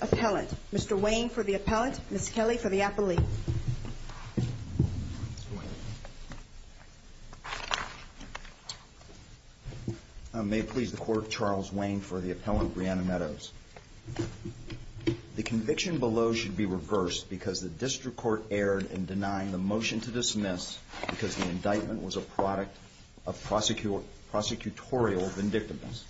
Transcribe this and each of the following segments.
Appellant, Mr. Wayne for the Appellant, Ms. Kelly for the Appellee. May it please the Court, Charles Wayne for the Appellant, Brianna Meadows. The conviction below should be reversed because the District Court erred in denying the motion to dismiss and was a product of prosecutorial vindictiveness.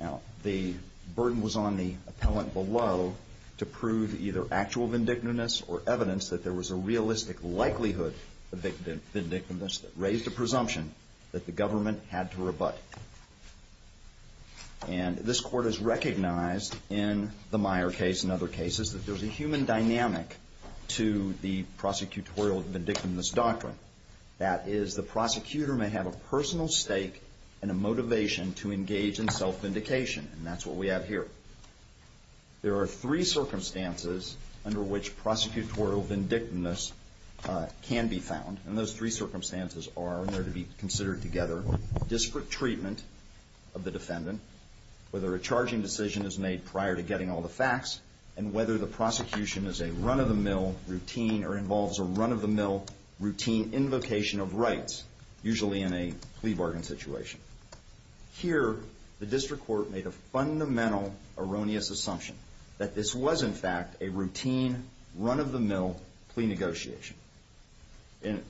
Now, the burden was on the Appellant below to prove either actual vindictiveness or evidence that there was a realistic likelihood of vindictiveness that raised a presumption that the government had to rebut. And this Court has recognized in the Meyer case and other cases that there's a human dynamic to the prosecutorial vindictiveness doctrine. That is, the prosecutor may have a personal stake and a motivation to engage in self-vindication. And that's what we have here. There are three circumstances under which prosecutorial vindictiveness can be found. And those three circumstances are, in order to be considered together, district treatment of the defendant, whether a charging decision is made prior to getting all the facts, and whether the prosecution is a run-of-the-mill routine or involves a run-of-the-mill routine invocation of rights, usually in a plea bargain situation. Here, the District Court made a fundamental erroneous assumption that this was, in fact, a routine, run-of-the-mill plea negotiation.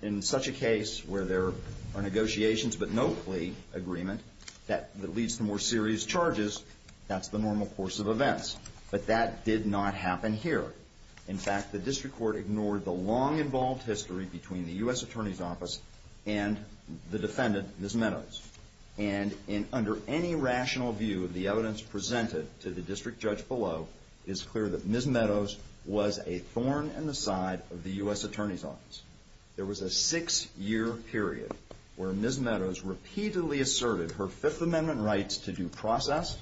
In such a case where there are negotiations but no plea agreement that leads to more serious charges, that's the normal course of events. But that did not happen here. In fact, the District Court ignored the long-involved history between the U.S. Attorney's Office and the defendant, Ms. Meadows. And under any rational view, the evidence presented to the district judge below is clear that Ms. Meadows was a thorn in the side of the U.S. Attorney's Office. There was a six-year period where Ms. Meadows repeatedly asserted her Fifth Amendment rights to due process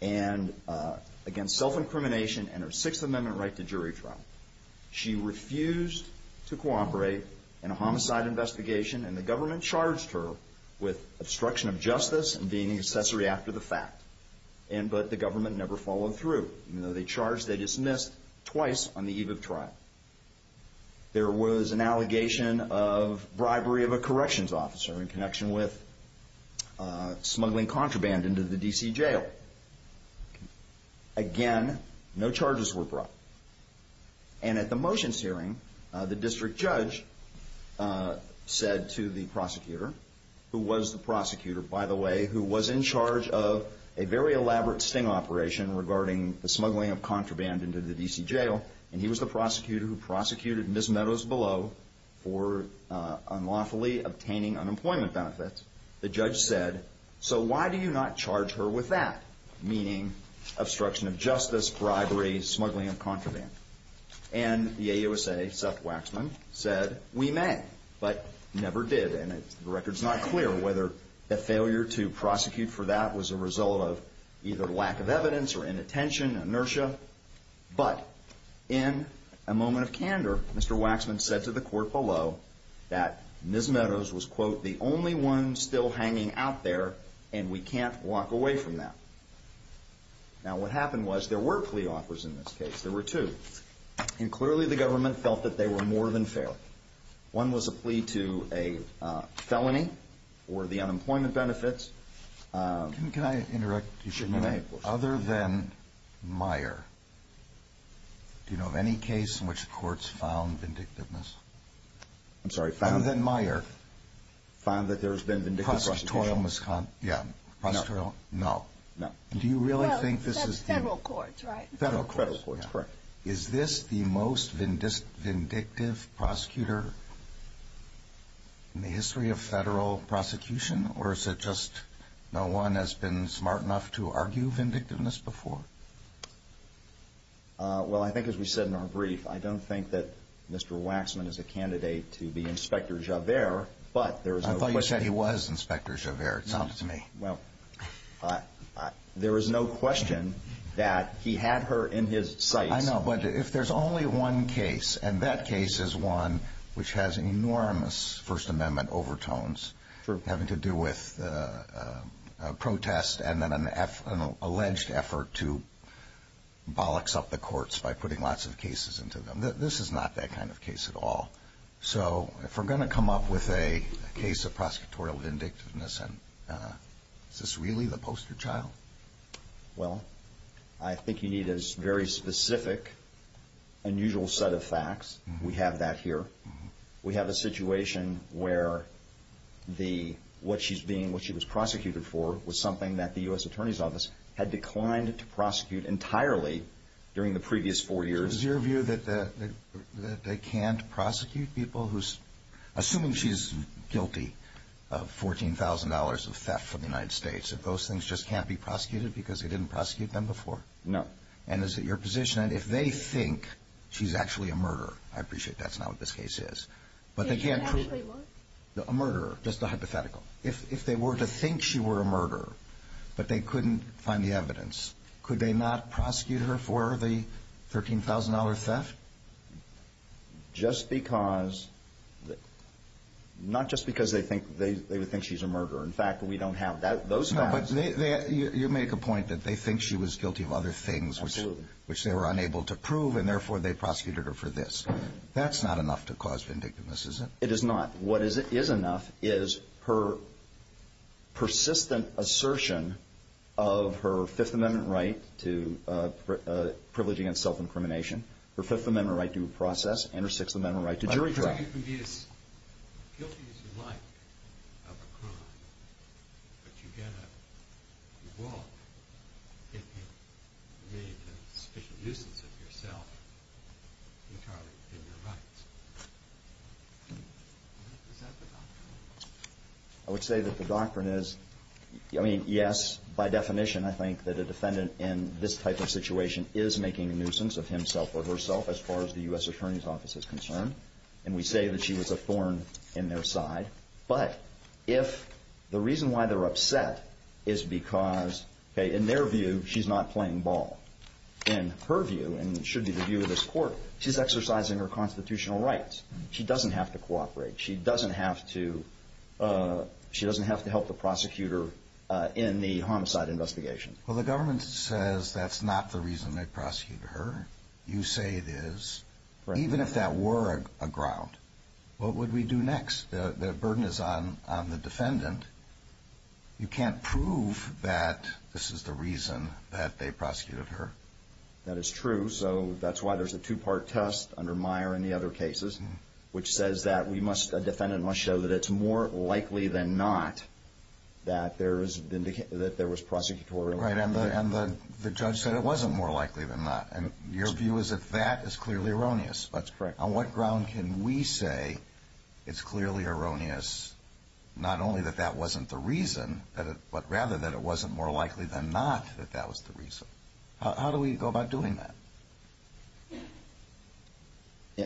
against self-incrimination and her Sixth Amendment right to jury trial. She refused to cooperate in a homicide investigation, and the government charged her with obstruction of justice and being an accessory after the fact. But the government never followed through. They charged, they dismissed twice on the eve of trial. There was an allegation of bribery of a corrections officer in connection with smuggling contraband into the D.C. jail. Again, no charges were brought. And at the motions hearing, the district judge said to the prosecutor, who was the prosecutor, by the way, who was in charge of a very elaborate sting operation regarding the smuggling of contraband into the D.C. jail, and he was the prosecutor who prosecuted Ms. Meadows below for unlawfully obtaining unemployment benefits, the judge said, so why do you not charge her with that? Meaning obstruction of justice, bribery, smuggling of contraband. And the AUSA, Seth Waxman, said, we may, but never did. And the record's not clear whether the failure to prosecute for that was a result of either lack of evidence or inattention, inertia. But in a moment of candor, Mr. Waxman said to the court below that Ms. Meadows was, quote, the only one still hanging out there, and we can't walk away from that. Now, what happened was there were plea offers in this case. There were two. And clearly the government felt that they were more than fair. One was a plea to a felony for the unemployment benefits. Can I interrupt you for a minute? You may, of course. Other than Meyer, do you know of any case in which courts found vindictiveness? I'm sorry, found? Other than Meyer. Found that there's been vindictive prosecution? Prosecutorial misconduct? Yeah. Prosecutorial? No. No. No. Well, that's federal courts, right? Federal courts. Federal courts, correct. Is this the most vindictive prosecutor in the history of federal prosecution, or is it just no one has been smart enough to argue vindictiveness before? Well, I think as we said in our brief, I don't think that Mr. Waxman is a candidate to be Inspector Javert, but there is no question. I thought you said he was Inspector Javert. It sounded to me. Well, there is no question that he had her in his sights. I know, but if there's only one case, and that case is one which has enormous First Amendment overtones having to do with protests and then an alleged effort to bollocks up the courts by putting lots of cases into them, this is not that kind of case at all. So if we're going to come up with a case of prosecutorial vindictiveness, is this really the poster child? Well, I think you need a very specific, unusual set of facts. We have that here. We have a situation where what she was prosecuted for was something that the U.S. Attorney's Office had declined to prosecute entirely during the previous four years. Is your view that they can't prosecute people who's, assuming she's guilty of $14,000 of theft from the United States, that those things just can't be prosecuted because they didn't prosecute them before? No. And is it your position that if they think she's actually a murderer, I appreciate that's not what this case is, but they can't prove it. She actually was? A murderer, just a hypothetical. Could they not prosecute her for the $13,000 theft? Not just because they think she's a murderer. In fact, we don't have those facts. You make a point that they think she was guilty of other things which they were unable to prove, and therefore they prosecuted her for this. That's not enough to cause vindictiveness, is it? It is not. What is enough is her persistent assertion of her Fifth Amendment right to privilege against self-incrimination, her Fifth Amendment right to due process, and her Sixth Amendment right to jury trial. You argue you can be as guilty as you like of a crime, but you get a reward if you made a sufficient nuisance of yourself entirely within your rights. Is that the doctrine? I would say that the doctrine is, I mean, yes, by definition, I think that a defendant in this type of situation is making a nuisance of himself or herself as far as the U.S. Attorney's Office is concerned, and we say that she was a thorn in their side. But if the reason why they're upset is because, in their view, she's not playing ball. In her view, and it should be the view of this Court, she's exercising her constitutional rights. She doesn't have to cooperate. She doesn't have to help the prosecutor in the homicide investigation. Well, the government says that's not the reason they prosecuted her. You say it is. Even if that were a ground, what would we do next? The burden is on the defendant. You can't prove that this is the reason that they prosecuted her. That is true. So that's why there's a two-part test under Meyer and the other cases, which says that a defendant must show that it's more likely than not that there was prosecutorial activity. Right, and the judge said it wasn't more likely than not. And your view is that that is clearly erroneous. That's correct. On what ground can we say it's clearly erroneous, not only that that wasn't the reason, but rather that it wasn't more likely than not that that was the reason? How do we go about doing that?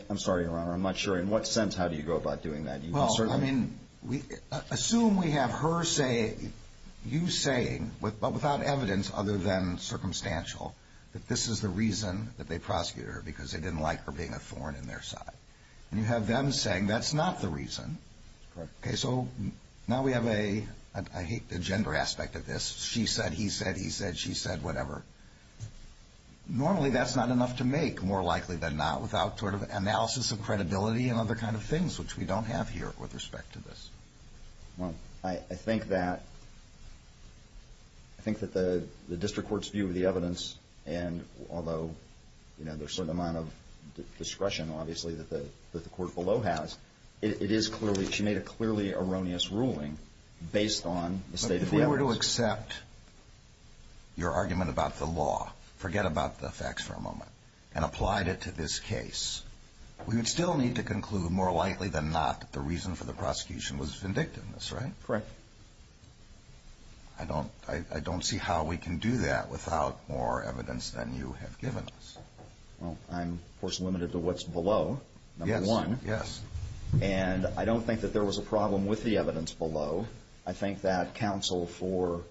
I'm sorry, Your Honor, I'm not sure in what sense how do you go about doing that. Well, I mean, assume we have her saying, you saying, but without evidence other than circumstantial, that this is the reason that they prosecuted her because they didn't like her being a thorn in their side. And you have them saying that's not the reason. That's correct. Okay, so now we have a, I hate the gender aspect of this, she said, he said, he said, she said, whatever. Normally that's not enough to make more likely than not without sort of analysis of credibility and other kind of things, which we don't have here with respect to this. Well, I think that, I think that the district court's view of the evidence, and although there's a certain amount of discretion, obviously, that the court below has, it is clearly, she made a clearly erroneous ruling based on the state of the evidence. But if they were to accept your argument about the law, forget about the facts for a moment, and applied it to this case, we would still need to conclude more likely than not that the reason for the prosecution was vindictiveness, right? Correct. I don't, I don't see how we can do that without more evidence than you have given us. Well, I'm, of course, limited to what's below, number one. Yes, yes. And I don't think that there was a problem with the evidence below. I think that counsel for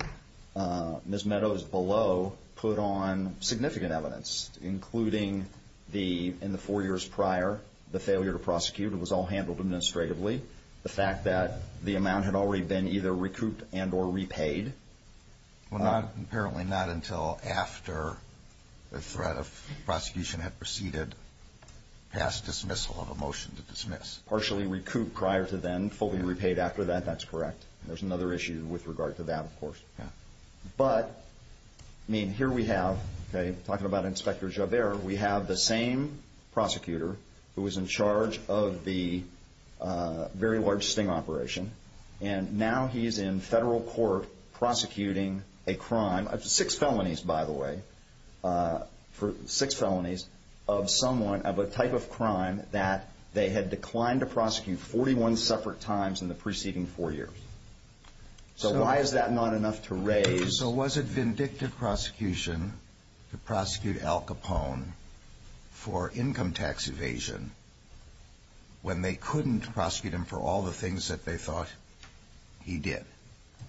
Ms. Meadows below put on significant evidence, including the, in the four years prior, the failure to prosecute. It was all handled administratively. The fact that the amount had already been either recouped and or repaid. Well, not, apparently not until after the threat of prosecution had proceeded past dismissal of a motion to dismiss. Partially recouped prior to then, fully repaid after that, that's correct. There's another issue with regard to that, of course. Yeah. But, I mean, here we have, okay, talking about Inspector Javert, we have the same prosecutor who was in charge of the very large sting operation. And now he's in federal court prosecuting a crime of six felonies, by the way, six felonies of someone of a type of crime that they had declined to prosecute 41 separate times in the preceding four years. So why is that not enough to raise? So was it vindictive prosecution to prosecute Al Capone for income tax evasion when they couldn't prosecute him for all the things that they thought he did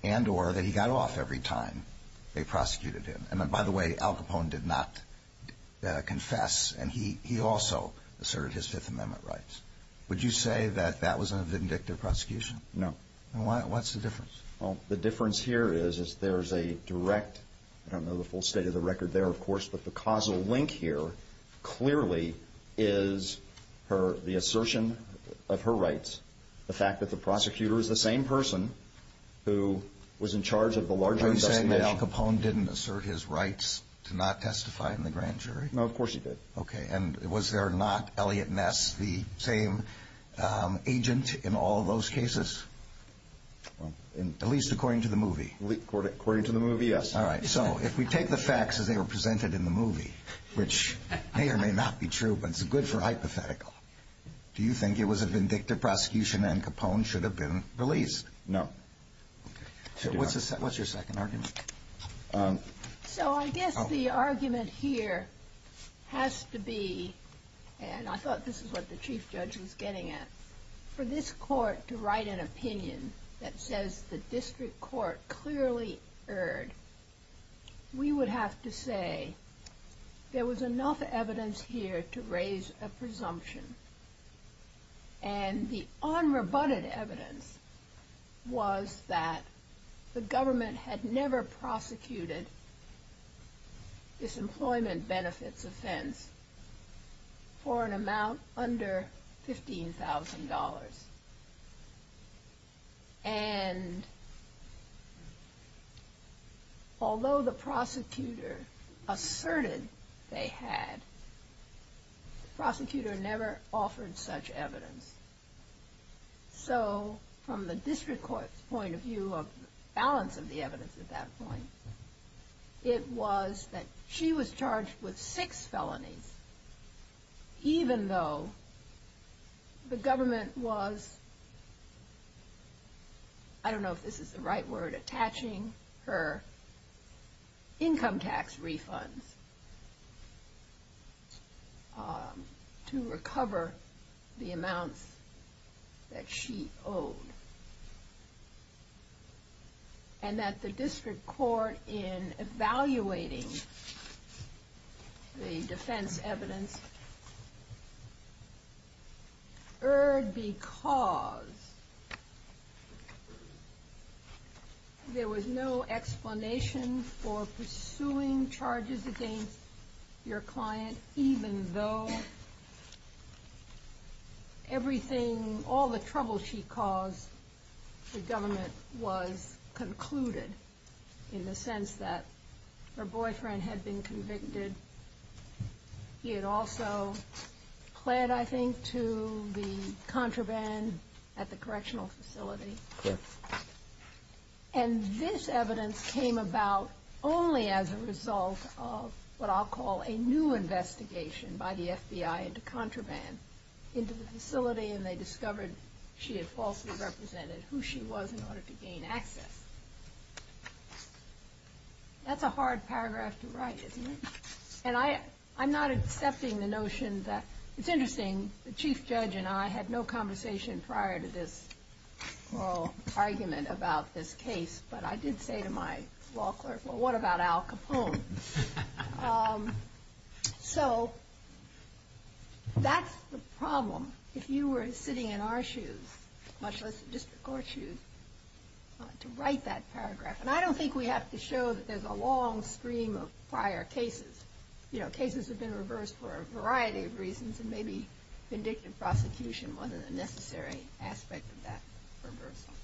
and or that he got off every time they prosecuted him? And, by the way, Al Capone did not confess and he also asserted his Fifth Amendment rights. Would you say that that was a vindictive prosecution? No. And what's the difference? Well, the difference here is there's a direct, I don't know the full state of the record there, of course, but the causal link here clearly is the assertion of her rights, the fact that the prosecutor is the same person who was in charge of the larger investigation. Are you saying that Al Capone didn't assert his rights to not testify in the grand jury? No, of course he did. Okay. And was there not Elliot Ness, the same agent in all those cases, at least according to the movie? According to the movie, yes. All right. So if we take the facts as they were presented in the movie, which may or may not be true, but it's good for hypothetical, do you think it was a vindictive prosecution and Capone should have been released? No. What's your second argument? So I guess the argument here has to be, and I thought this is what the chief judge was getting at, for this court to write an opinion that says the district court clearly erred, we would have to say there was enough evidence here to raise a presumption. And the unrebutted evidence was that the government had never prosecuted disemployment benefits offense for an amount under $15,000. And although the prosecutor asserted they had, the prosecutor never offered such evidence. So from the district court's point of view of the balance of the evidence at that point, it was that she was charged with six felonies, even though the government was, I don't know if this is the right word, attaching her income tax refunds to recover the amounts that she owed. And that the district court, in evaluating the defense evidence, erred because there was no explanation for pursuing charges against your client, even though everything, all the trouble she caused the government was concluded, in the sense that her boyfriend had been convicted. He had also pled, I think, to the contraband at the correctional facility. And this evidence came about only as a result of what I'll call a new investigation by the FBI into contraband into the facility, and they discovered she had falsely represented who she was in order to gain access. That's a hard paragraph to write, isn't it? And I'm not accepting the notion that, it's interesting, the chief judge and I had no conversation prior to this oral argument about this case, but I did say to my law clerk, well, what about Al Capone? So that's the problem. If you were sitting in our shoes, much less the district court shoes, to write that paragraph. And I don't think we have to show that there's a long stream of prior cases. Cases have been reversed for a variety of reasons, and maybe vindictive prosecution wasn't a necessary aspect of that reversal.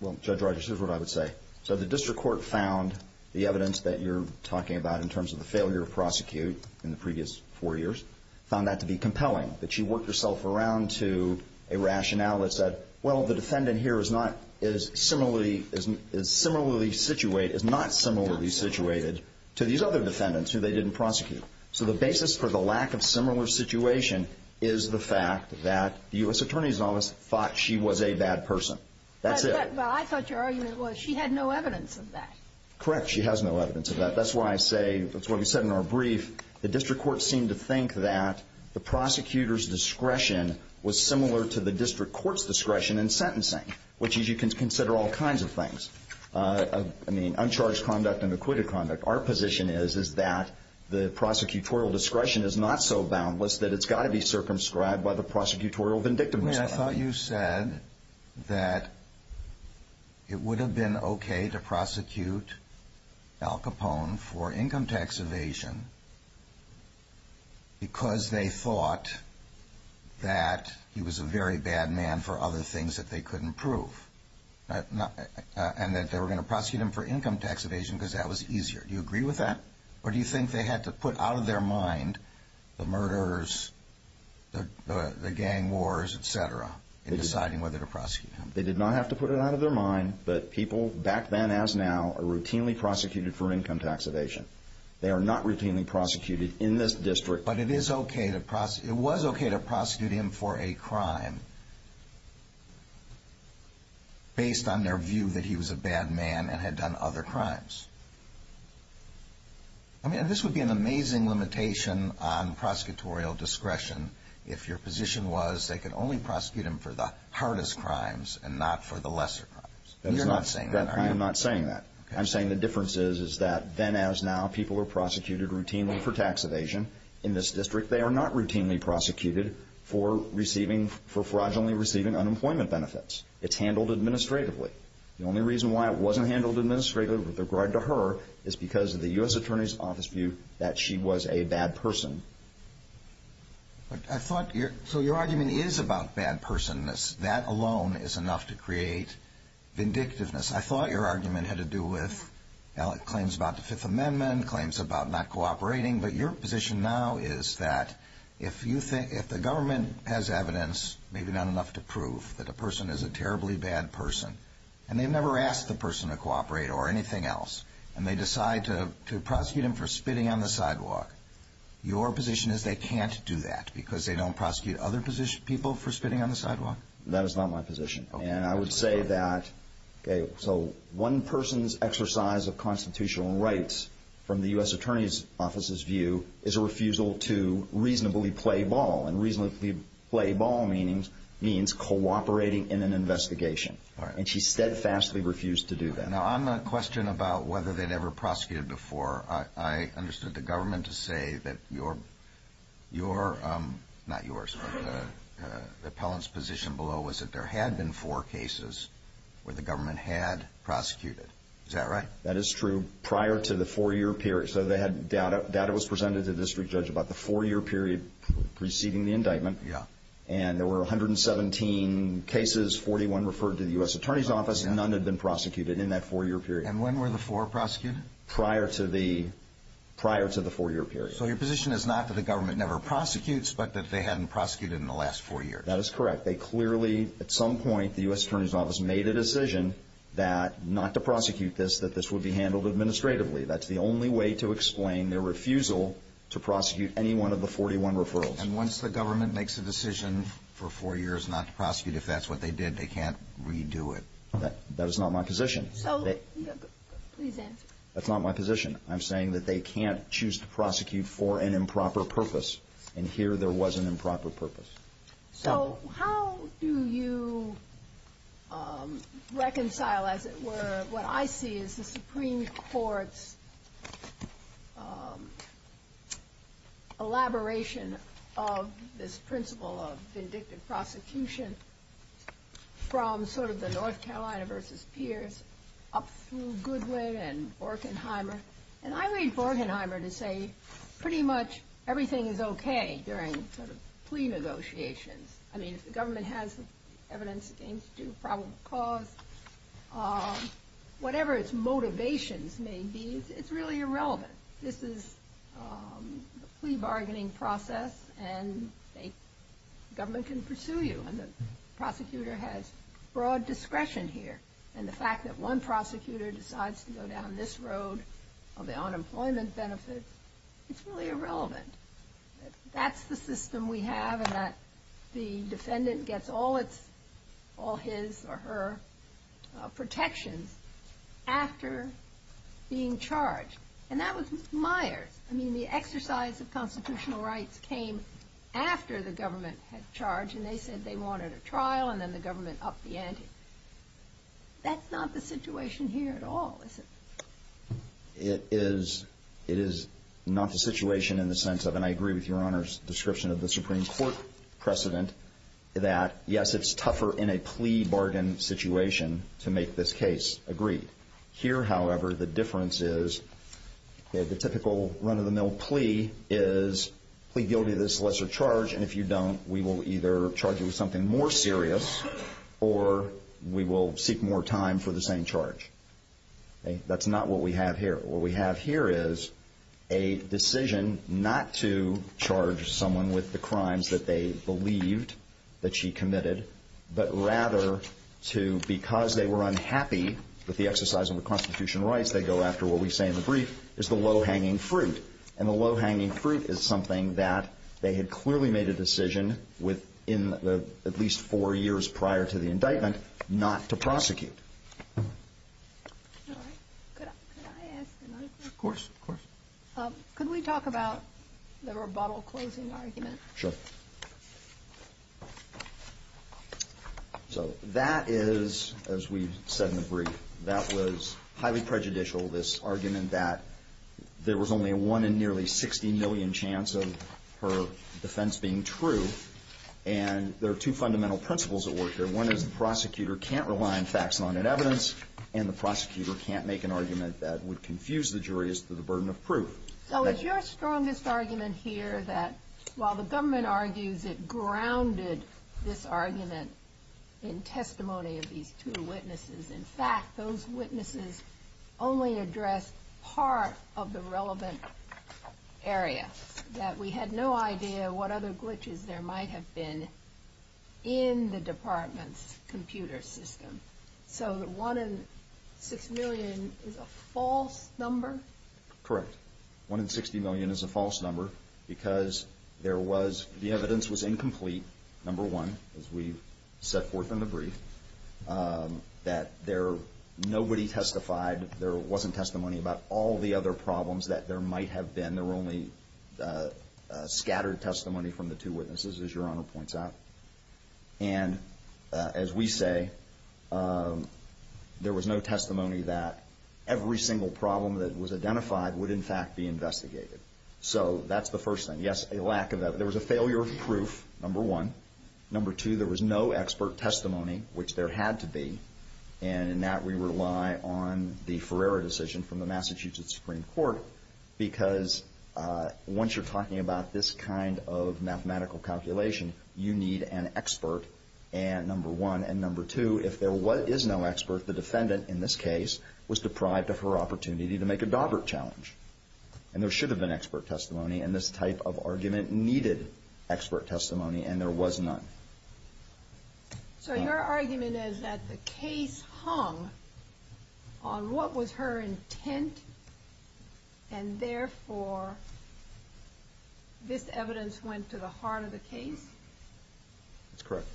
Well, Judge Rogers, here's what I would say. So the district court found the evidence that you're talking about, in terms of the failure to prosecute in the previous four years, found that to be compelling, that she worked herself around to a rationale that said, well, the defendant here is not similarly situated to these other defendants who they didn't prosecute. So the basis for the lack of similar situation is the fact that the U.S. Attorney's Office thought she was a bad person. Well, I thought your argument was she had no evidence of that. Correct. She has no evidence of that. That's why I say, that's what we said in our brief, the district court seemed to think that the prosecutor's discretion was similar to the district court's discretion in sentencing, which is you can consider all kinds of things. I mean, uncharged conduct and acquitted conduct. But our position is, is that the prosecutorial discretion is not so boundless that it's got to be circumscribed by the prosecutorial vindictiveness. I thought you said that it would have been okay to prosecute Al Capone for income tax evasion because they thought that he was a very bad man for other things that they couldn't prove. And that they were going to prosecute him for income tax evasion because that was easier. Do you agree with that? Or do you think they had to put out of their mind the murders, the gang wars, et cetera, in deciding whether to prosecute him? They did not have to put it out of their mind, but people back then as now are routinely prosecuted for income tax evasion. They are not routinely prosecuted in this district. But it is okay to prosecute, it was okay to prosecute him for a crime based on their view that he was a bad man and had done other crimes. I mean, this would be an amazing limitation on prosecutorial discretion if your position was they could only prosecute him for the hardest crimes and not for the lesser crimes. You're not saying that, are you? I'm not saying that. I'm saying the difference is that then as now people are prosecuted routinely for tax evasion. In this district they are not routinely prosecuted for receiving, for fraudulently receiving unemployment benefits. It's handled administratively. The only reason why it wasn't handled administratively with regard to her is because of the U.S. Attorney's Office view that she was a bad person. So your argument is about bad person-ness. That alone is enough to create vindictiveness. I thought your argument had to do with claims about the Fifth Amendment, claims about not cooperating, but your position now is that if the government has evidence, maybe not enough to prove, that a person is a terribly bad person and they've never asked the person to cooperate or anything else, and they decide to prosecute him for spitting on the sidewalk. Your position is they can't do that because they don't prosecute other people for spitting on the sidewalk? That is not my position. And I would say that one person's exercise of constitutional rights from the U.S. Attorney's Office's view is a refusal to reasonably play ball. And reasonably play ball means cooperating in an investigation. And she steadfastly refused to do that. Now on the question about whether they'd ever prosecuted before, I understood the government to say that your, not yours, but the appellant's position below was that there had been four cases where the government had prosecuted. Is that right? That is true. Prior to the four-year period. So they had data. Data was presented to the district judge about the four-year period preceding the indictment. And there were 117 cases. 41 referred to the U.S. Attorney's Office. None had been prosecuted in that four-year period. And when were the four prosecuted? Prior to the four-year period. So your position is not that the government never prosecutes, but that they hadn't prosecuted in the last four years? That is correct. They clearly, at some point, the U.S. Attorney's Office made a decision that not to prosecute this, that this would be handled administratively. That's the only way to explain their refusal to prosecute any one of the 41 referrals. And once the government makes a decision for four years not to prosecute, if that's what they did, they can't redo it? That is not my position. Please answer. That's not my position. I'm saying that they can't choose to prosecute for an improper purpose. And here there was an improper purpose. So how do you reconcile, as it were, what I see as the Supreme Court's elaboration of this principle of vindictive prosecution from sort of the North Carolina versus Pierce, up through Goodwin and Borkenheimer? And I read Borkenheimer to say pretty much everything is okay during sort of plea negotiations. I mean, if the government has evidence against you, probable cause, whatever its motivations may be, it's really irrelevant. This is a plea bargaining process, and the government can pursue you. And the prosecutor has broad discretion here. And the fact that one prosecutor decides to go down this road of the unemployment benefit, it's really irrelevant. That's the system we have, and that the defendant gets all his or her protections after being charged. And that was Myers. I mean, the exercise of constitutional rights came after the government had charged, and they said they wanted a trial, and then the government upped the ante. That's not the situation here at all, is it? It is not the situation in the sense of, and I agree with Your Honor's description of the Supreme Court precedent, that yes, it's tougher in a plea bargain situation to make this case agreed. Here, however, the difference is that the typical run-of-the-mill plea is plea guilty of this lesser charge, and if you don't, we will either charge you with something more serious, or we will seek more serious charges. And we will do that over time for the same charge. That's not what we have here. What we have here is a decision not to charge someone with the crimes that they believed that she committed, but rather to, because they were unhappy with the exercise of the constitutional rights, they go after what we say in the brief, is the low-hanging fruit. And the low-hanging fruit is something that they had clearly made a decision within at least four years prior to the indictment not to prosecute. All right. Could I ask another question? Of course, of course. Could we talk about the rebuttal closing argument? Sure. So that is, as we said in the brief, that was highly prejudicial, this argument that there was only a one in nearly 60 million chance of her defense being true, and there are two fundamental principles at work here. One is the prosecutor can't rely on facts, not on evidence, and the prosecutor can't make an argument that would confuse the jury as to the burden of proof. So is your strongest argument here that while the government argues it grounded this argument in testimony of these two witnesses, in fact, those witnesses only addressed part of the relevant area, that we had no idea what other glitches there might have been in the Department of Justice? So the one in six million is a false number? Correct. One in 60 million is a false number because the evidence was incomplete, number one, as we set forth in the brief, that nobody testified, there wasn't testimony about all the other problems that there might have been, there were only scattered testimony from the two witnesses, as Your Honor points out. And as we say, there was no testimony that every single problem that was identified would, in fact, be investigated. So that's the first thing. Yes, a lack of evidence. There was a failure of proof, number one. Number two, there was no expert testimony, which there had to be, and in that we rely on the Ferreira decision from the Massachusetts Supreme Court, because once you're talking about this kind of mathematical calculation, you need an expert testimony. And number one, and number two, if there is no expert, the defendant, in this case, was deprived of her opportunity to make a Daubert challenge. And there should have been expert testimony, and this type of argument needed expert testimony, and there was none. So your argument is that the case hung on what was her intent, and therefore, this evidence went to the heart of the case? That's correct.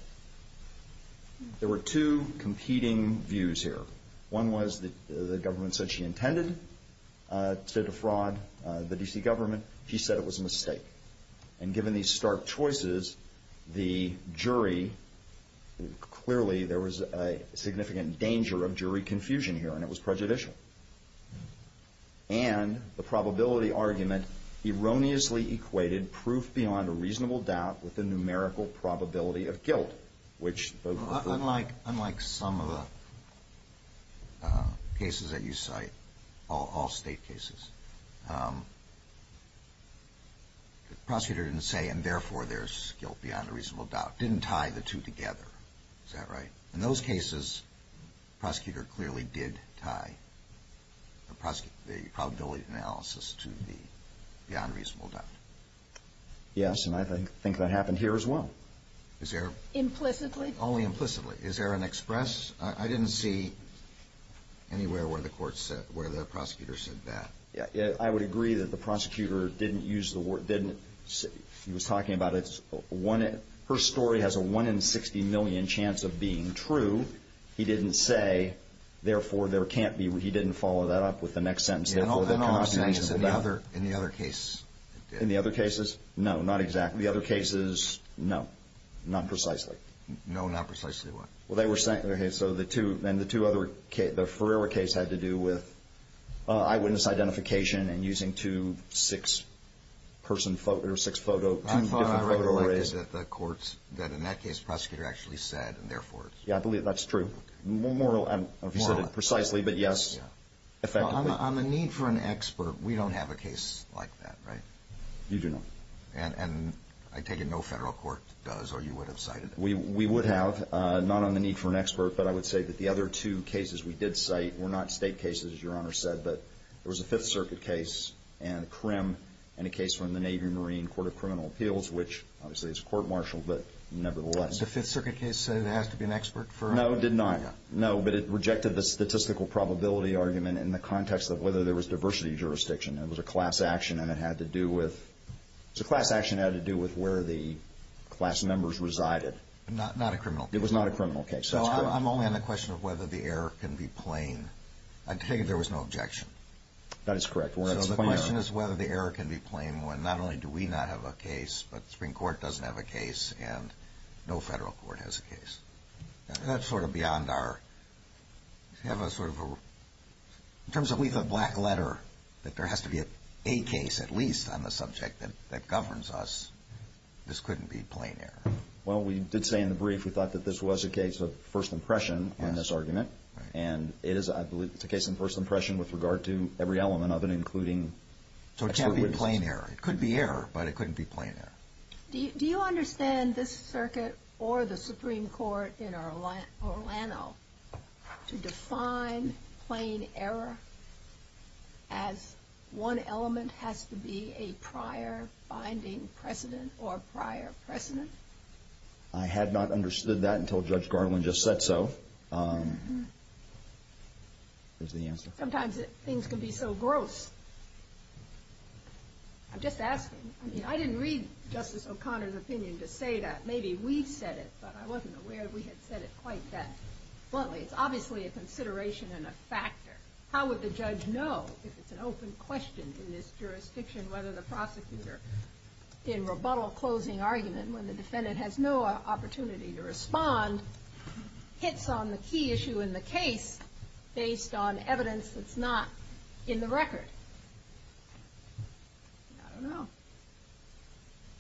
There were two competing views here. One was that the government said she intended to defraud the D.C. government. She said it was a mistake. And given these stark choices, the jury, clearly, there was a significant danger of jury confusion here, and it was prejudicial. And the probability argument erroneously equated proof beyond a reasonable doubt with the numerical probability of guilt, which both of them. Unlike some of the cases that you cite, all state cases, the prosecutor didn't say, and therefore, there's guilt beyond a reasonable doubt. Didn't tie the two together. Is that right? In those cases, the prosecutor clearly did tie the probability analysis to the beyond reasonable doubt. Yes, and I think that happened here, as well. Implicitly? Only implicitly. Is there an express? I didn't see anywhere where the court said, where the prosecutor said that. I would agree that the prosecutor didn't use the word, didn't, he was talking about, her story has a 1 in 60 million chance of being true. He didn't say, therefore, there can't be, he didn't follow that up with the next sentence. In the other cases? No, not exactly. The other cases, no. Not precisely. No, not precisely what? Well, they were saying, so the two, and the two other, the Ferreira case had to do with eyewitness identification and using two six-person, or six-photo, two different photo arrays. I believe that the courts, that in that case, the prosecutor actually said, and therefore, it's true. Yeah, I believe that's true. Moral, I don't know if you said it precisely, but yes, effectively. On the need for an expert, we don't have a case like that, right? You do not. And I take it no federal court does, or you would have cited it? We would have, not on the need for an expert, but I would say that the other two cases we did cite were not state cases, as Your Honor said, but there was a Fifth Circuit case, and a crim, and a case from the Navy and Marine Court of Criminal Appeals, which obviously is court-martialed, but nevertheless. The Fifth Circuit case said it has to be an expert for? No, it did not. No, but it rejected the statistical probability argument in the context of whether there was diversity jurisdiction. It was a class action, and it had to do with, it was a class action that had to do with where the class members resided. Not a criminal case? It was not a criminal case. So I'm only on the question of whether the error can be plain. I take it there was no objection? That is correct. So the question is whether the error can be plain, when not only do we not have a case, but the Supreme Court doesn't have a case, and no federal court has a case. That's sort of beyond our, you have a sort of a, in terms of we have a black letter, that there has to be a case, at least, on the subject that governs us. This couldn't be plain error. Well, we did say in the brief, we thought that this was a case of first impression on this argument, and it is, I believe, a case of first impression with regard to every element of it, including, so it can't be plain error. It could be error, but it couldn't be plain error. Do you understand this circuit, or the Supreme Court in Orlando, to define plain error as one element has to be a prior binding precedent, or prior precedent? I had not understood that until Judge Garland just said so. There's the answer. Sometimes things can be so gross. I'm just asking. I mean, I didn't read Justice O'Connor's opinion to say that. Maybe we said it, but I wasn't aware we had said it quite that bluntly. It's obviously a consideration and a factor. How would the judge know, if it's an open question in this jurisdiction, whether the prosecutor, in rebuttal closing argument, when the defendant has no opportunity to respond, hits on the key issue in the case based on evidence that's not in the record? I don't know.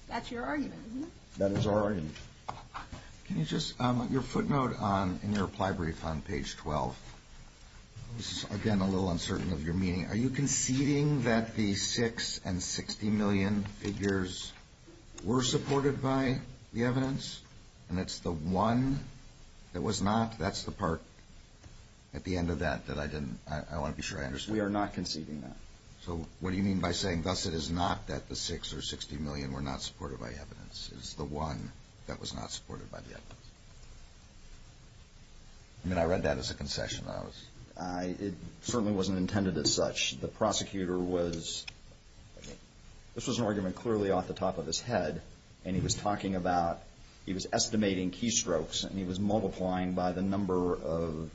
That's your argument, isn't it? That is our argument. Can you just, your footnote in your reply brief on page 12. This is, again, a little uncertain of your meaning. Are you conceding that the 6 and 60 million figures were supported by the evidence, and it's the one that was not? That's the part at the end of that that I didn't, I want to be sure I understood. We are not conceding that. So what do you mean by saying, thus, it is not that the 6 or 60 million were not supported by evidence? It's the one that was not supported by the evidence? I mean, I read that as a concession. It certainly wasn't intended as such. The prosecutor was, this was an argument clearly off the top of his head, and he was talking about, he was estimating keystrokes, and he was multiplying by the number of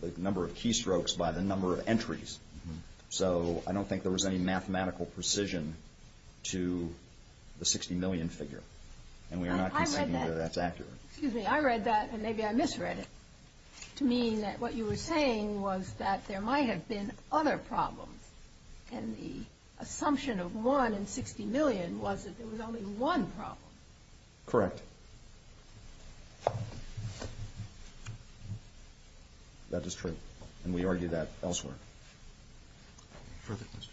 keystrokes by the number of entries. So I don't think there was any mathematical precision to the 60 million figure. And we are not conceding that that's accurate. Excuse me, I read that, and maybe I misread it, to mean that what you were saying was that there might have been other problems. And the assumption of 1 in 60 million was that there was only one problem. Correct. That is true. And we argue that elsewhere. Further questions?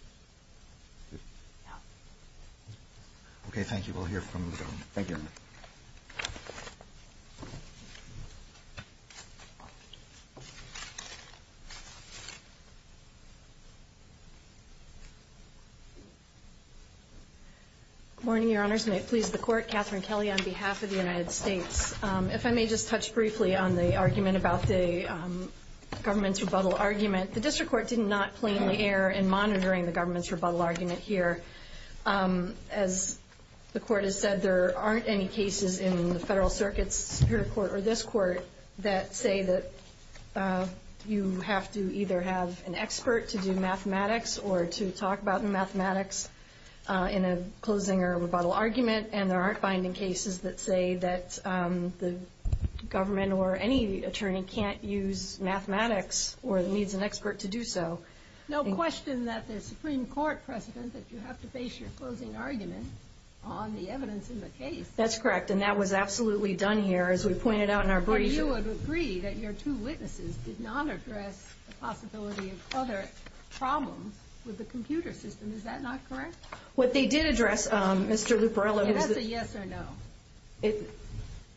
No. Okay, thank you. We'll hear from the government. Thank you. Good morning, Your Honors. May it please the Court. Catherine Kelly on behalf of the United States. If I may just touch briefly on the argument about the government's rebuttal argument. The District Court did not play any air in monitoring the government's rebuttal argument here. As the Court has said, there aren't any cases in the Federal Circuit's Superior Court or this Court that say that you have to either have an expert to do mathematics, or to talk about mathematics in a closing or rebuttal argument. And there aren't binding cases that say that the government or any attorney can't use mathematics or needs an expert to do so. No question that the Supreme Court precedent that you have to base your closing argument on the evidence in the case. That's correct, and that was absolutely done here, as we pointed out in our brief. But you would agree that your two witnesses did not address the possibility of other problems with the computer system. Is that not correct? What they did address, Mr. Luperiello... Is that a yes or no?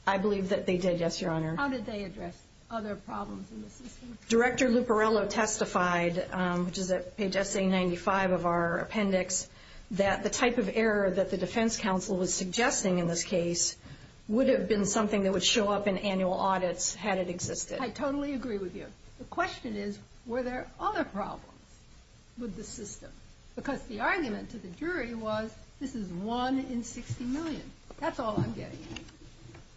I believe that they did, yes, Your Honor. How did they address other problems in the system? Director Luperiello testified, which is at page SA95 of our appendix, that the type of error that the defense counsel was suggesting in this case would have been something that would show up in annual audits, had it existed. I totally agree with you. The question is, were there other problems with the system? Because the argument to the jury was, this is one in 60 million. That's all I'm getting at.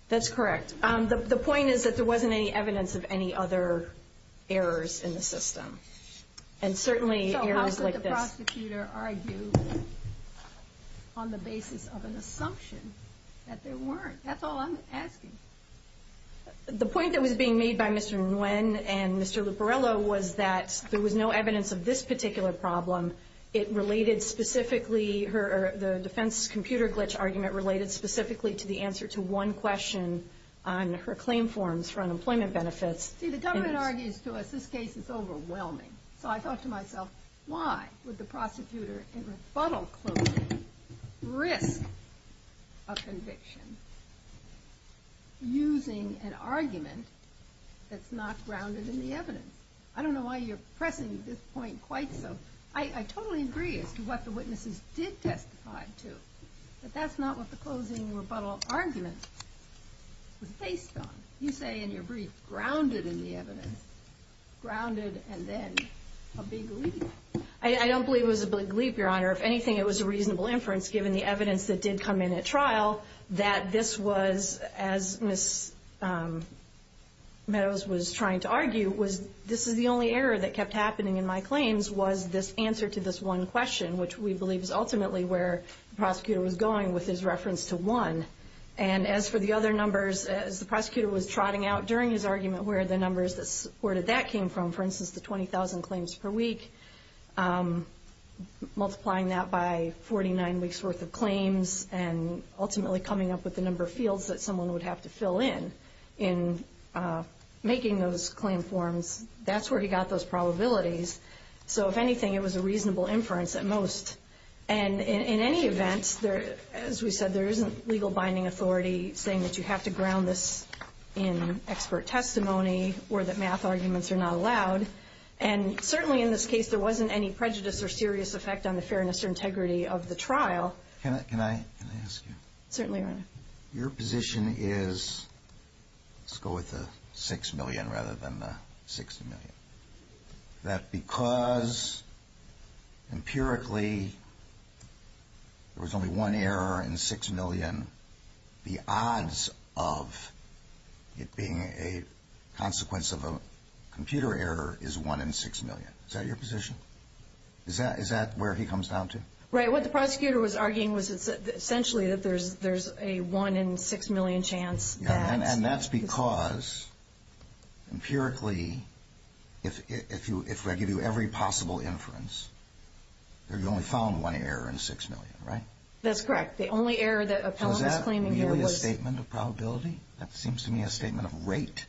That's correct. The point is that there wasn't any evidence of any other errors in the system. And certainly errors like this... There weren't. That's all I'm asking. The point that was being made by Mr. Nguyen and Mr. Luperiello was that there was no evidence of this particular problem. It related specifically... The defense's computer glitch argument related specifically to the answer to one question on her claim forms for unemployment benefits. See, the government argues to us, this case is overwhelming. So I thought to myself, why would the prosecutor in rebuttal closing risk a conviction using an argument that's not grounded in the evidence? I don't know why you're pressing this point quite so. I totally agree as to what the witnesses did testify to. But that's not what the closing rebuttal argument was based on. You say in your brief, grounded in the evidence. Grounded and then a big leap. I don't believe it was a big leap, Your Honor. If anything, it was a reasonable inference given the evidence that did come in at trial that this was, as Ms. Meadows was trying to argue, this is the only error that kept happening in my claims was this answer to this one question, which we believe is ultimately where the prosecutor was going with his reference to one. And as for the other numbers, as the prosecutor was trotting out during his argument where the numbers that supported that came from, for instance, the 20,000 claims per week, multiplying that by 49 weeks' worth of claims and ultimately coming up with the number of fields that someone would have to fill in in making those claim forms, that's where he got those probabilities. So if anything, it was a reasonable inference at most. And in any event, as we said, there isn't legal binding authority saying that you have to ground this in expert testimony or that math arguments are not allowed. And certainly in this case, there wasn't any prejudice or serious effect on the fairness or integrity of the trial. Can I ask you? Certainly, Your Honor. Your position is, let's go with the 6 million rather than the 60 million, that because empirically there was only one error in 6 million, the odds of it being a consequence of a computer error is 1 in 6 million. Is that your position? Is that where he comes down to? Right. What the prosecutor was arguing was essentially that there's a 1 in 6 million chance. And that's because empirically, if I give you every possible inference, you've only found one error in 6 million, right? That's correct. The only error that appellant was claiming here was— Was that merely a statement of probability? That seems to me a statement of rate,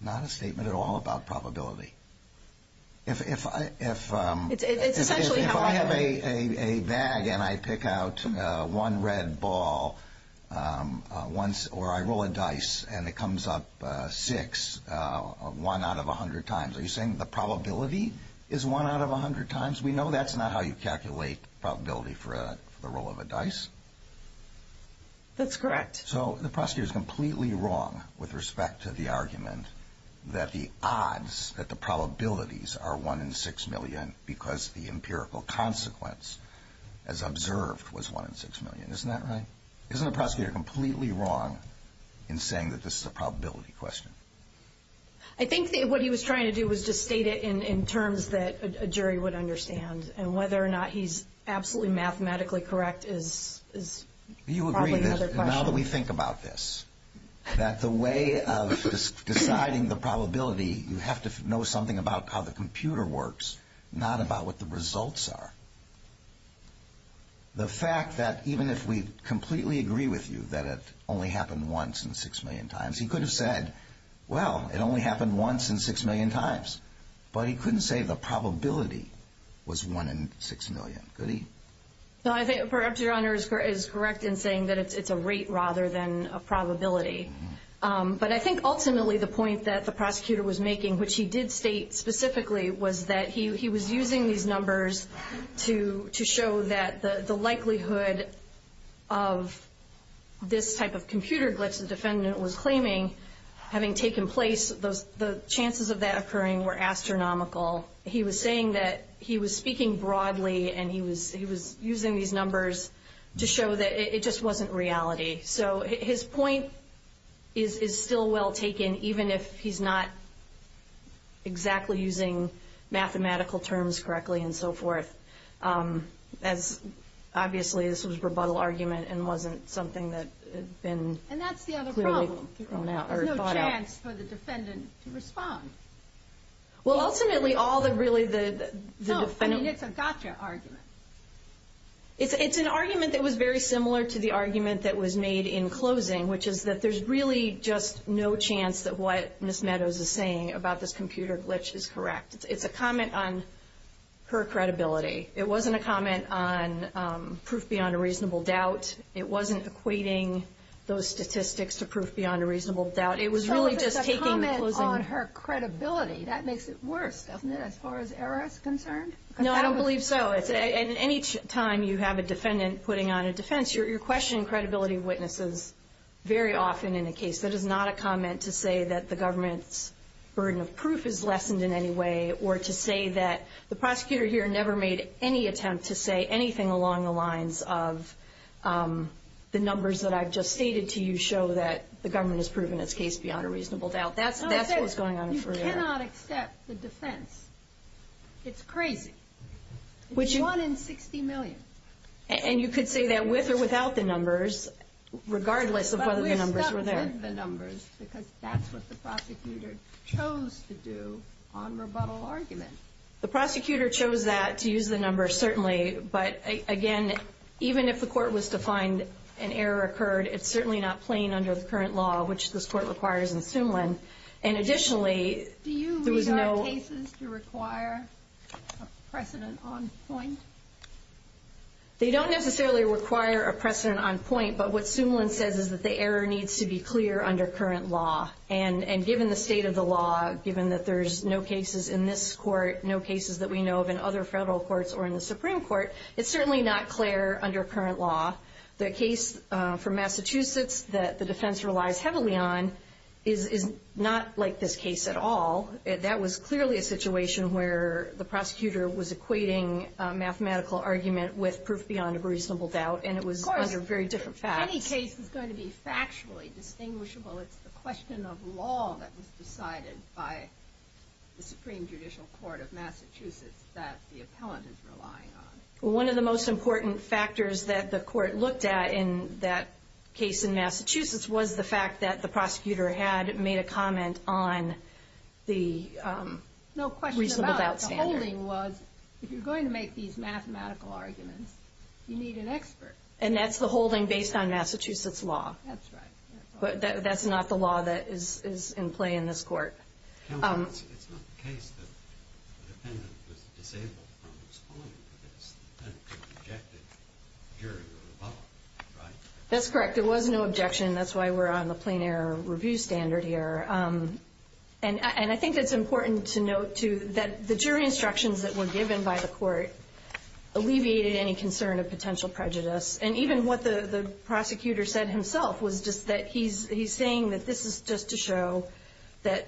not a statement at all about probability. If I have a bag and I pick out one red ball once, or I roll a dice and it comes up six, one out of 100 times, are you saying the probability is one out of 100 times? We know that's not how you calculate probability for the roll of a dice. That's correct. So the prosecutor is completely wrong with respect to the argument that the odds, that the probabilities are 1 in 6 million because the empirical consequence, as observed, was 1 in 6 million. Isn't that right? Isn't the prosecutor completely wrong in saying that this is a probability question? I think what he was trying to do was just state it in terms that a jury would understand, and whether or not he's absolutely mathematically correct is probably another question. You agree that now that we think about this, that the way of deciding the probability, you have to know something about how the computer works, not about what the results are. The fact that even if we completely agree with you that it only happened once in 6 million times, he could have said, well, it only happened once in 6 million times. But he couldn't say the probability was 1 in 6 million, could he? Perhaps Your Honor is correct in saying that it's a rate rather than a probability. But I think ultimately the point that the prosecutor was making, which he did state specifically, was that he was using these numbers to show that the likelihood of this type of computer glitch the defendant was claiming having taken place, the chances of that occurring were astronomical. He was saying that he was speaking broadly, and he was using these numbers to show that it just wasn't reality. So his point is still well taken, even if he's not exactly using mathematical terms correctly and so forth. Obviously, this was a rebuttal argument and wasn't something that had been clearly thought out. And that's the other problem. There's no chance for the defendant to respond. Well, ultimately, all that really the defendant... No, I mean, it's a gotcha argument. It's an argument that was very similar to the argument that was made in closing, which is that there's really just no chance that what Ms. Meadows is saying about this computer glitch is correct. It's a comment on her credibility. It wasn't a comment on proof beyond a reasonable doubt. It wasn't equating those statistics to proof beyond a reasonable doubt. It was really just taking the closing... So it's a comment on her credibility. That makes it worse, doesn't it, as far as ERA is concerned? No, I don't believe so. At any time you have a defendant putting on a defense, you're questioning credibility of witnesses very often in a case. That is not a comment to say that the government's burden of proof is lessened in any way or to say that the prosecutor here never made any attempt to say anything along the lines of the numbers that I've just stated to you show that the government has proven its case beyond a reasonable doubt. That's what's going on for ERA. You cannot accept the defense. It's crazy. It's 1 in 60 million. And you could say that with or without the numbers, regardless of whether the numbers were there. But we're stuck with the numbers because that's what the prosecutor chose to do on rebuttal argument. The prosecutor chose that, to use the numbers, certainly. But, again, even if the court was to find an error occurred, it's certainly not plain under the current law, which this court requires in Sumlin. Do you regard cases to require a precedent on point? They don't necessarily require a precedent on point. But what Sumlin says is that the error needs to be clear under current law. And given the state of the law, given that there's no cases in this court, no cases that we know of in other federal courts or in the Supreme Court, it's certainly not clear under current law. The case for Massachusetts that the defense relies heavily on is not like this case at all. That was clearly a situation where the prosecutor was equating a mathematical argument with proof beyond a reasonable doubt, and it was under very different facts. Any case is going to be factually distinguishable. It's the question of law that was decided by the Supreme Judicial Court of Massachusetts that the appellant is relying on. Well, one of the most important factors that the court looked at in that case in Massachusetts was the fact that the prosecutor had made a comment on the reasonable doubt standard. No question about it. The holding was if you're going to make these mathematical arguments, you need an expert. And that's the holding based on Massachusetts law. That's right. But that's not the law that is in play in this court. It's not the case that the defendant was disabled from responding to this. The defendant could have objected during the rebuttal, right? That's correct. There was no objection. That's why we're on the plain error review standard here. And I think it's important to note, too, that the jury instructions that were given by the court alleviated any concern of potential prejudice. And even what the prosecutor said himself was just that he's saying that this is just to show that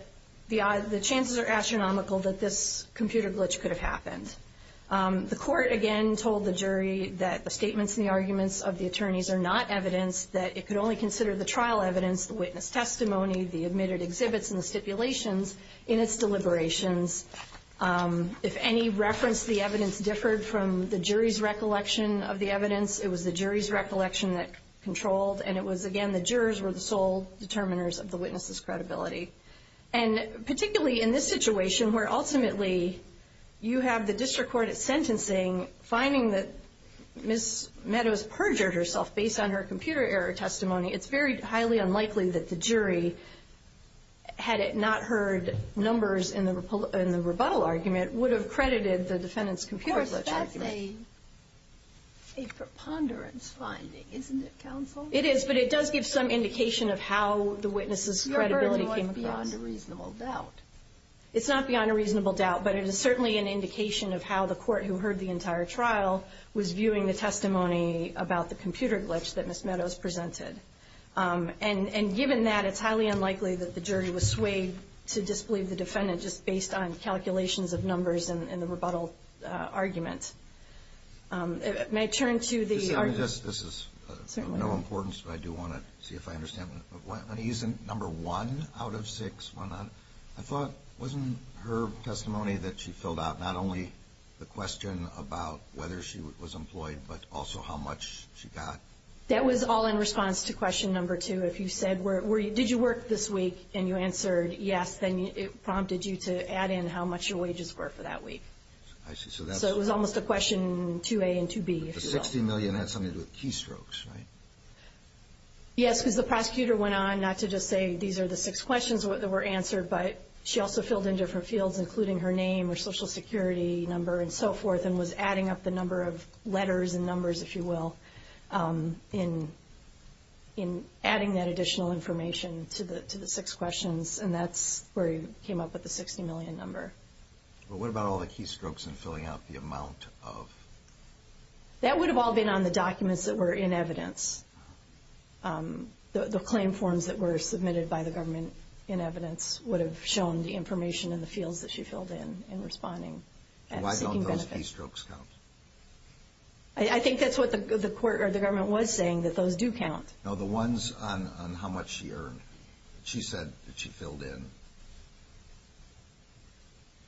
the chances are astronomical that this computer glitch could have happened. The court, again, told the jury that the statements and the arguments of the attorneys are not evidence, that it could only consider the trial evidence, the witness testimony, the admitted exhibits, and the stipulations in its deliberations. If any reference to the evidence differed from the jury's recollection of the evidence, it was the jury's recollection that controlled. And it was, again, the jurors were the sole determiners of the witness's credibility. And particularly in this situation where ultimately you have the district court sentencing, finding that Ms. Meadows perjured herself based on her computer error testimony, it's very highly unlikely that the jury, had it not heard numbers in the rebuttal argument, would have credited the defendant's computer glitch argument. Of course, that's a preponderance finding, isn't it, counsel? It is, but it does give some indication of how the witness's credibility came about. Your version was beyond a reasonable doubt. It's not beyond a reasonable doubt, but it is certainly an indication of how the court, who heard the entire trial, was viewing the testimony about the computer glitch that Ms. Meadows presented. And given that, it's highly unlikely that the jury was swayed to disbelieve the defendant just based on calculations of numbers in the rebuttal argument. May I turn to the argument? This is of no importance, but I do want to see if I understand. Let me use number one out of six. I thought, wasn't her testimony that she filled out not only the question about whether she was employed, but also how much she got? That was all in response to question number two. If you said, did you work this week, and you answered yes, then it prompted you to add in how much your wages were for that week. So it was almost a question 2A and 2B. The $60 million had something to do with keystrokes, right? Yes, because the prosecutor went on not to just say these are the six questions that were answered, but she also filled in different fields, including her name, her Social Security number, and so forth, and was adding up the number of letters and numbers, if you will, in adding that additional information to the six questions, and that's where he came up with the $60 million number. Okay. Well, what about all the keystrokes and filling out the amount of? That would have all been on the documents that were in evidence. The claim forms that were submitted by the government in evidence would have shown the information in the fields that she filled in in responding. Why don't those keystrokes count? I think that's what the government was saying, that those do count. No, the ones on how much she earned. She said that she filled in.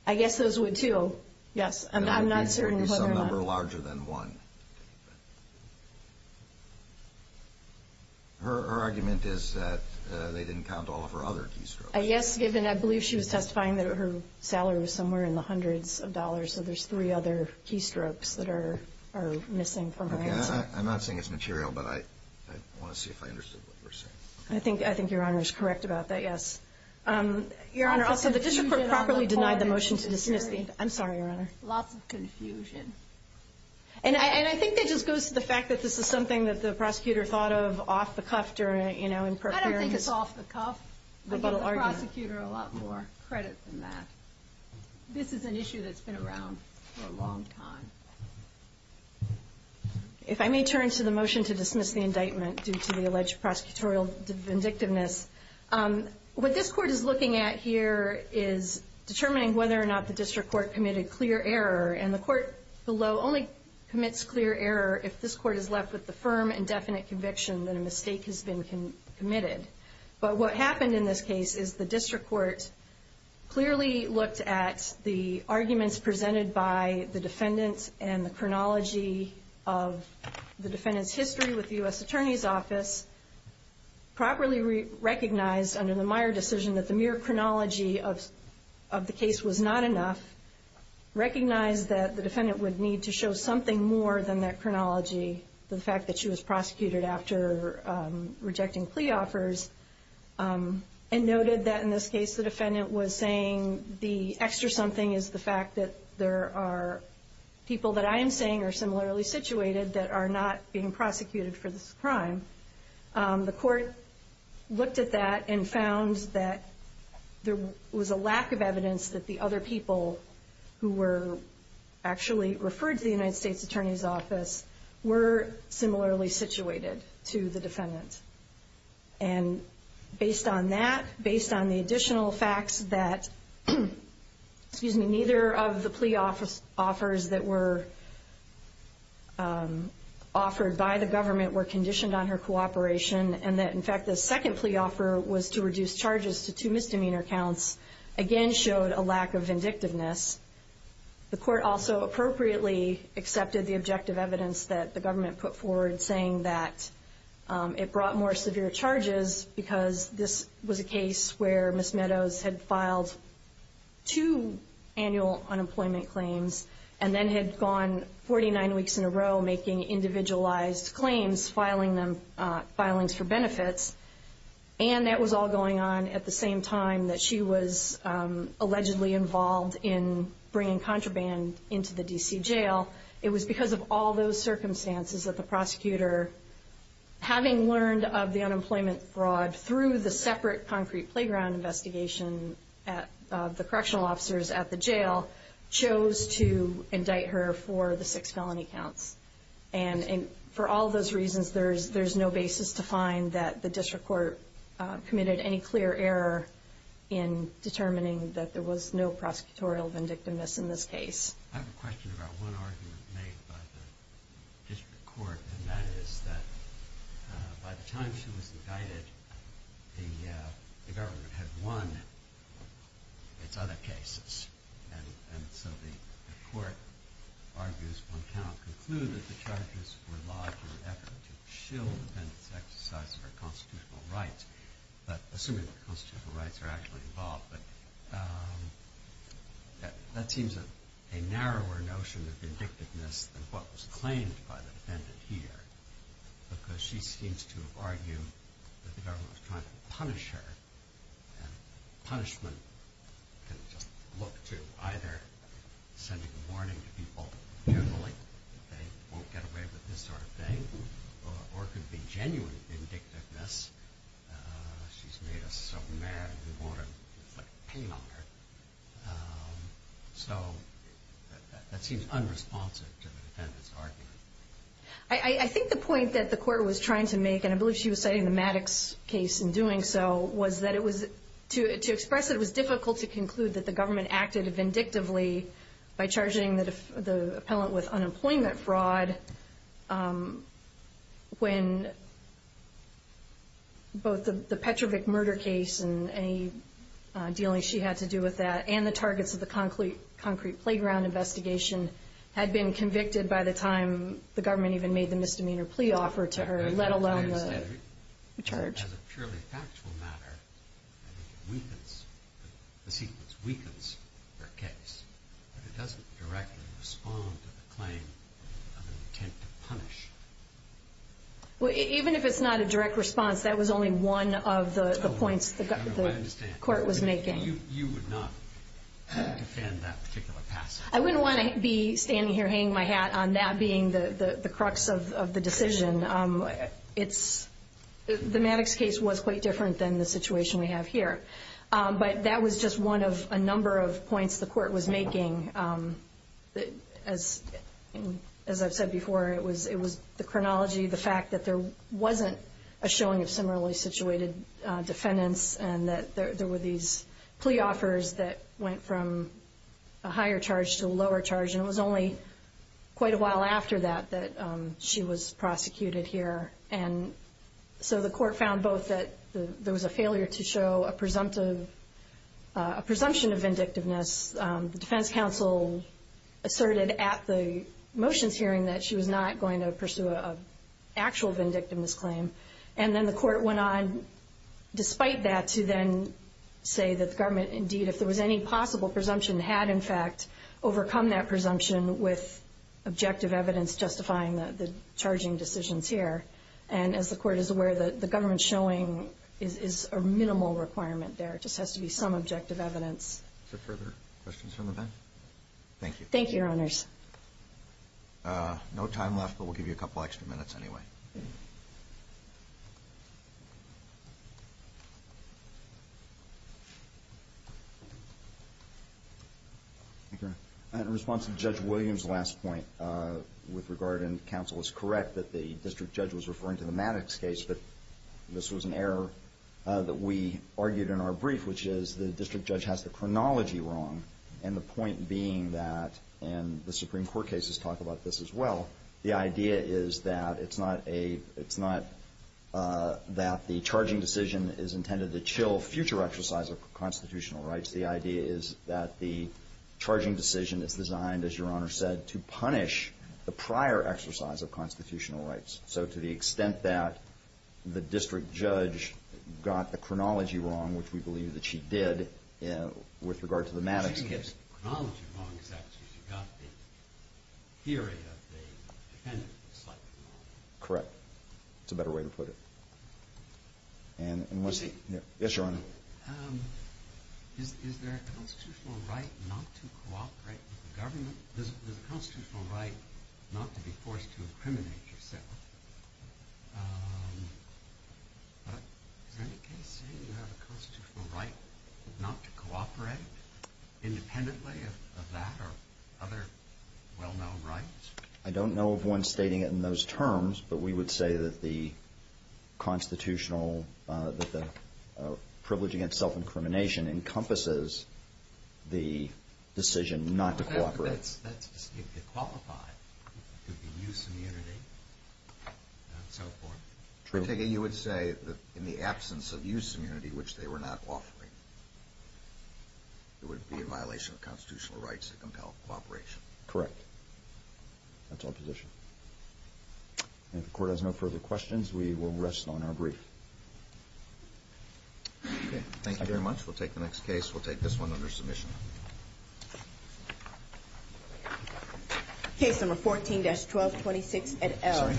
I guess those would, too. Yes. I'm not certain. Some number larger than one. Her argument is that they didn't count all of her other keystrokes. Yes, given I believe she was testifying that her salary was somewhere in the hundreds of dollars, so there's three other keystrokes that are missing from her answer. I'm not saying it's material, but I want to see if I understood what you're saying. I think Your Honor is correct about that, yes. Your Honor, also the district court properly denied the motion to dismiss the inquiry. I'm sorry, Your Honor. Lots of confusion. And I think that just goes to the fact that this is something that the prosecutor thought of off the cuff in preparing his rebuttal argument. I don't think it's off the cuff. I give the prosecutor a lot more credit than that. This is an issue that's been around for a long time. If I may turn to the motion to dismiss the indictment due to the alleged prosecutorial vindictiveness. What this court is looking at here is determining whether or not the district court committed clear error, and the court below only commits clear error if this court is left with the firm and definite conviction that a mistake has been committed. But what happened in this case is the district court clearly looked at the arguments presented by the defendant and the chronology of the defendant's history with the U.S. Attorney's Office, properly recognized under the Meyer decision that the mere chronology of the case was not enough, recognized that the defendant would need to show something more than that chronology, the fact that she was prosecuted after rejecting plea offers, and noted that in this case the defendant was saying the extra something is the fact that there are people that I am saying are similarly situated that are not being prosecuted for this crime. The court looked at that and found that there was a lack of evidence that the other people who were actually referred to the United States Attorney's Office were similarly situated to the defendant. And based on that, based on the additional facts that neither of the plea offers that were offered by the government were conditioned on her cooperation, and that in fact the second plea offer was to reduce charges to two misdemeanor counts, again showed a lack of vindictiveness. The court also appropriately accepted the objective evidence that the government put forward saying that it brought more severe charges because this was a case where Ms. Meadows had filed two annual unemployment claims and then had gone 49 weeks in a row making individualized claims, filing them, filings for benefits. And that was all going on at the same time that she was allegedly involved in bringing contraband into the D.C. jail. It was because of all those circumstances that the prosecutor, having learned of the unemployment fraud through the separate concrete playground investigation of the correctional officers at the jail, chose to indict her for the six felony counts. And for all those reasons, there's no basis to find that the district court committed any clear error in determining that there was no prosecutorial vindictiveness in this case. I have a question about one argument made by the district court, and that is that by the time she was indicted, the government had won its other cases. And so the court argues one cannot conclude that the charges were lodged in an effort to shill the defendant's exercise of her constitutional rights, assuming that constitutional rights are actually involved. But that seems a narrower notion of vindictiveness than what was claimed by the defendant here because she seems to argue that the government was trying to punish her. Punishment can just look to either sending a warning to people, generally, that they won't get away with this sort of thing, or it could be genuine vindictiveness. She's made us so mad, we want to inflict pain on her. So that seems unresponsive to the defendant's argument. I think the point that the court was trying to make, and I believe she was citing the Maddox case in doing so, was that to express it was difficult to conclude that the government acted vindictively by charging the appellant with unemployment fraud when both the Petrovic murder case and any dealing she had to do with that and the targets of the concrete playground investigation had been convicted by the time the government even made the misdemeanor plea offer to her, let alone the charge. Even if it's not a direct response, that was only one of the points the court was making. I wouldn't want to be standing here hanging my hat on that being the crux of the decision. The Maddox case was quite different than the situation we have here. But that was just one of a number of points the court was making. As I've said before, it was the chronology, the fact that there wasn't a showing of similarly situated defendants and that there were these plea offers that went from a higher charge to a lower charge, and it was only quite a while after that that she was prosecuted here. And so the court found both that there was a failure to show a presumption of vindictiveness. The defense counsel asserted at the motions hearing that she was not going to pursue an actual vindictiveness claim. And then the court went on, despite that, to then say that the government, indeed, if there was any possible presumption, had, in fact, overcome that presumption with objective evidence justifying the charging decisions here. And as the court is aware, the government showing is a minimal requirement there. It just has to be some objective evidence. Is there further questions from the bench? Thank you. Thank you, Your Honors. No time left, but we'll give you a couple extra minutes anyway. Thank you, Your Honor. In response to Judge Williams' last point with regard, and counsel is correct, that the district judge was referring to the Maddox case, but this was an error that we argued in our brief, which is the district judge has the chronology wrong. And the point being that, and the Supreme Court cases talk about this as well, the idea is that it's not a – it's not that the charging decision is intended to chill future exercise of constitutional rights. The idea is that the charging decision is designed, as Your Honor said, to punish the prior exercise of constitutional rights. So to the extent that the district judge got the chronology wrong, which we believe that she did with regard to the Maddox case. Correct. That's a better way to put it. Yes, Your Honor. Not to cooperate independently of that or other well-known rights? I don't know of one stating it in those terms, but we would say that the constitutional – that the privilege against self-incrimination encompasses the decision not to cooperate. But that's – if you qualify, it could be use immunity and so forth. Particularly, you would say that in the absence of use immunity, which they were not offering, it would be a violation of constitutional rights to compel cooperation. Correct. That's our position. And if the Court has no further questions, we will rest on our brief. Okay. Thank you very much. We'll take the next case. We'll take this one under submission. Case number 14-1226 at Elm. I'm sorry.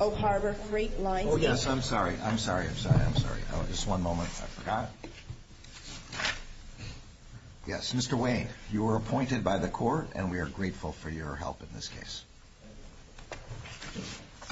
Oak Harbor Freight Line. Oh, yes. I'm sorry. I'm sorry. I'm sorry. I'm sorry. Just one moment. I forgot. Yes, Mr. Wayne. You were appointed by the Court, and we are grateful for your help in this case.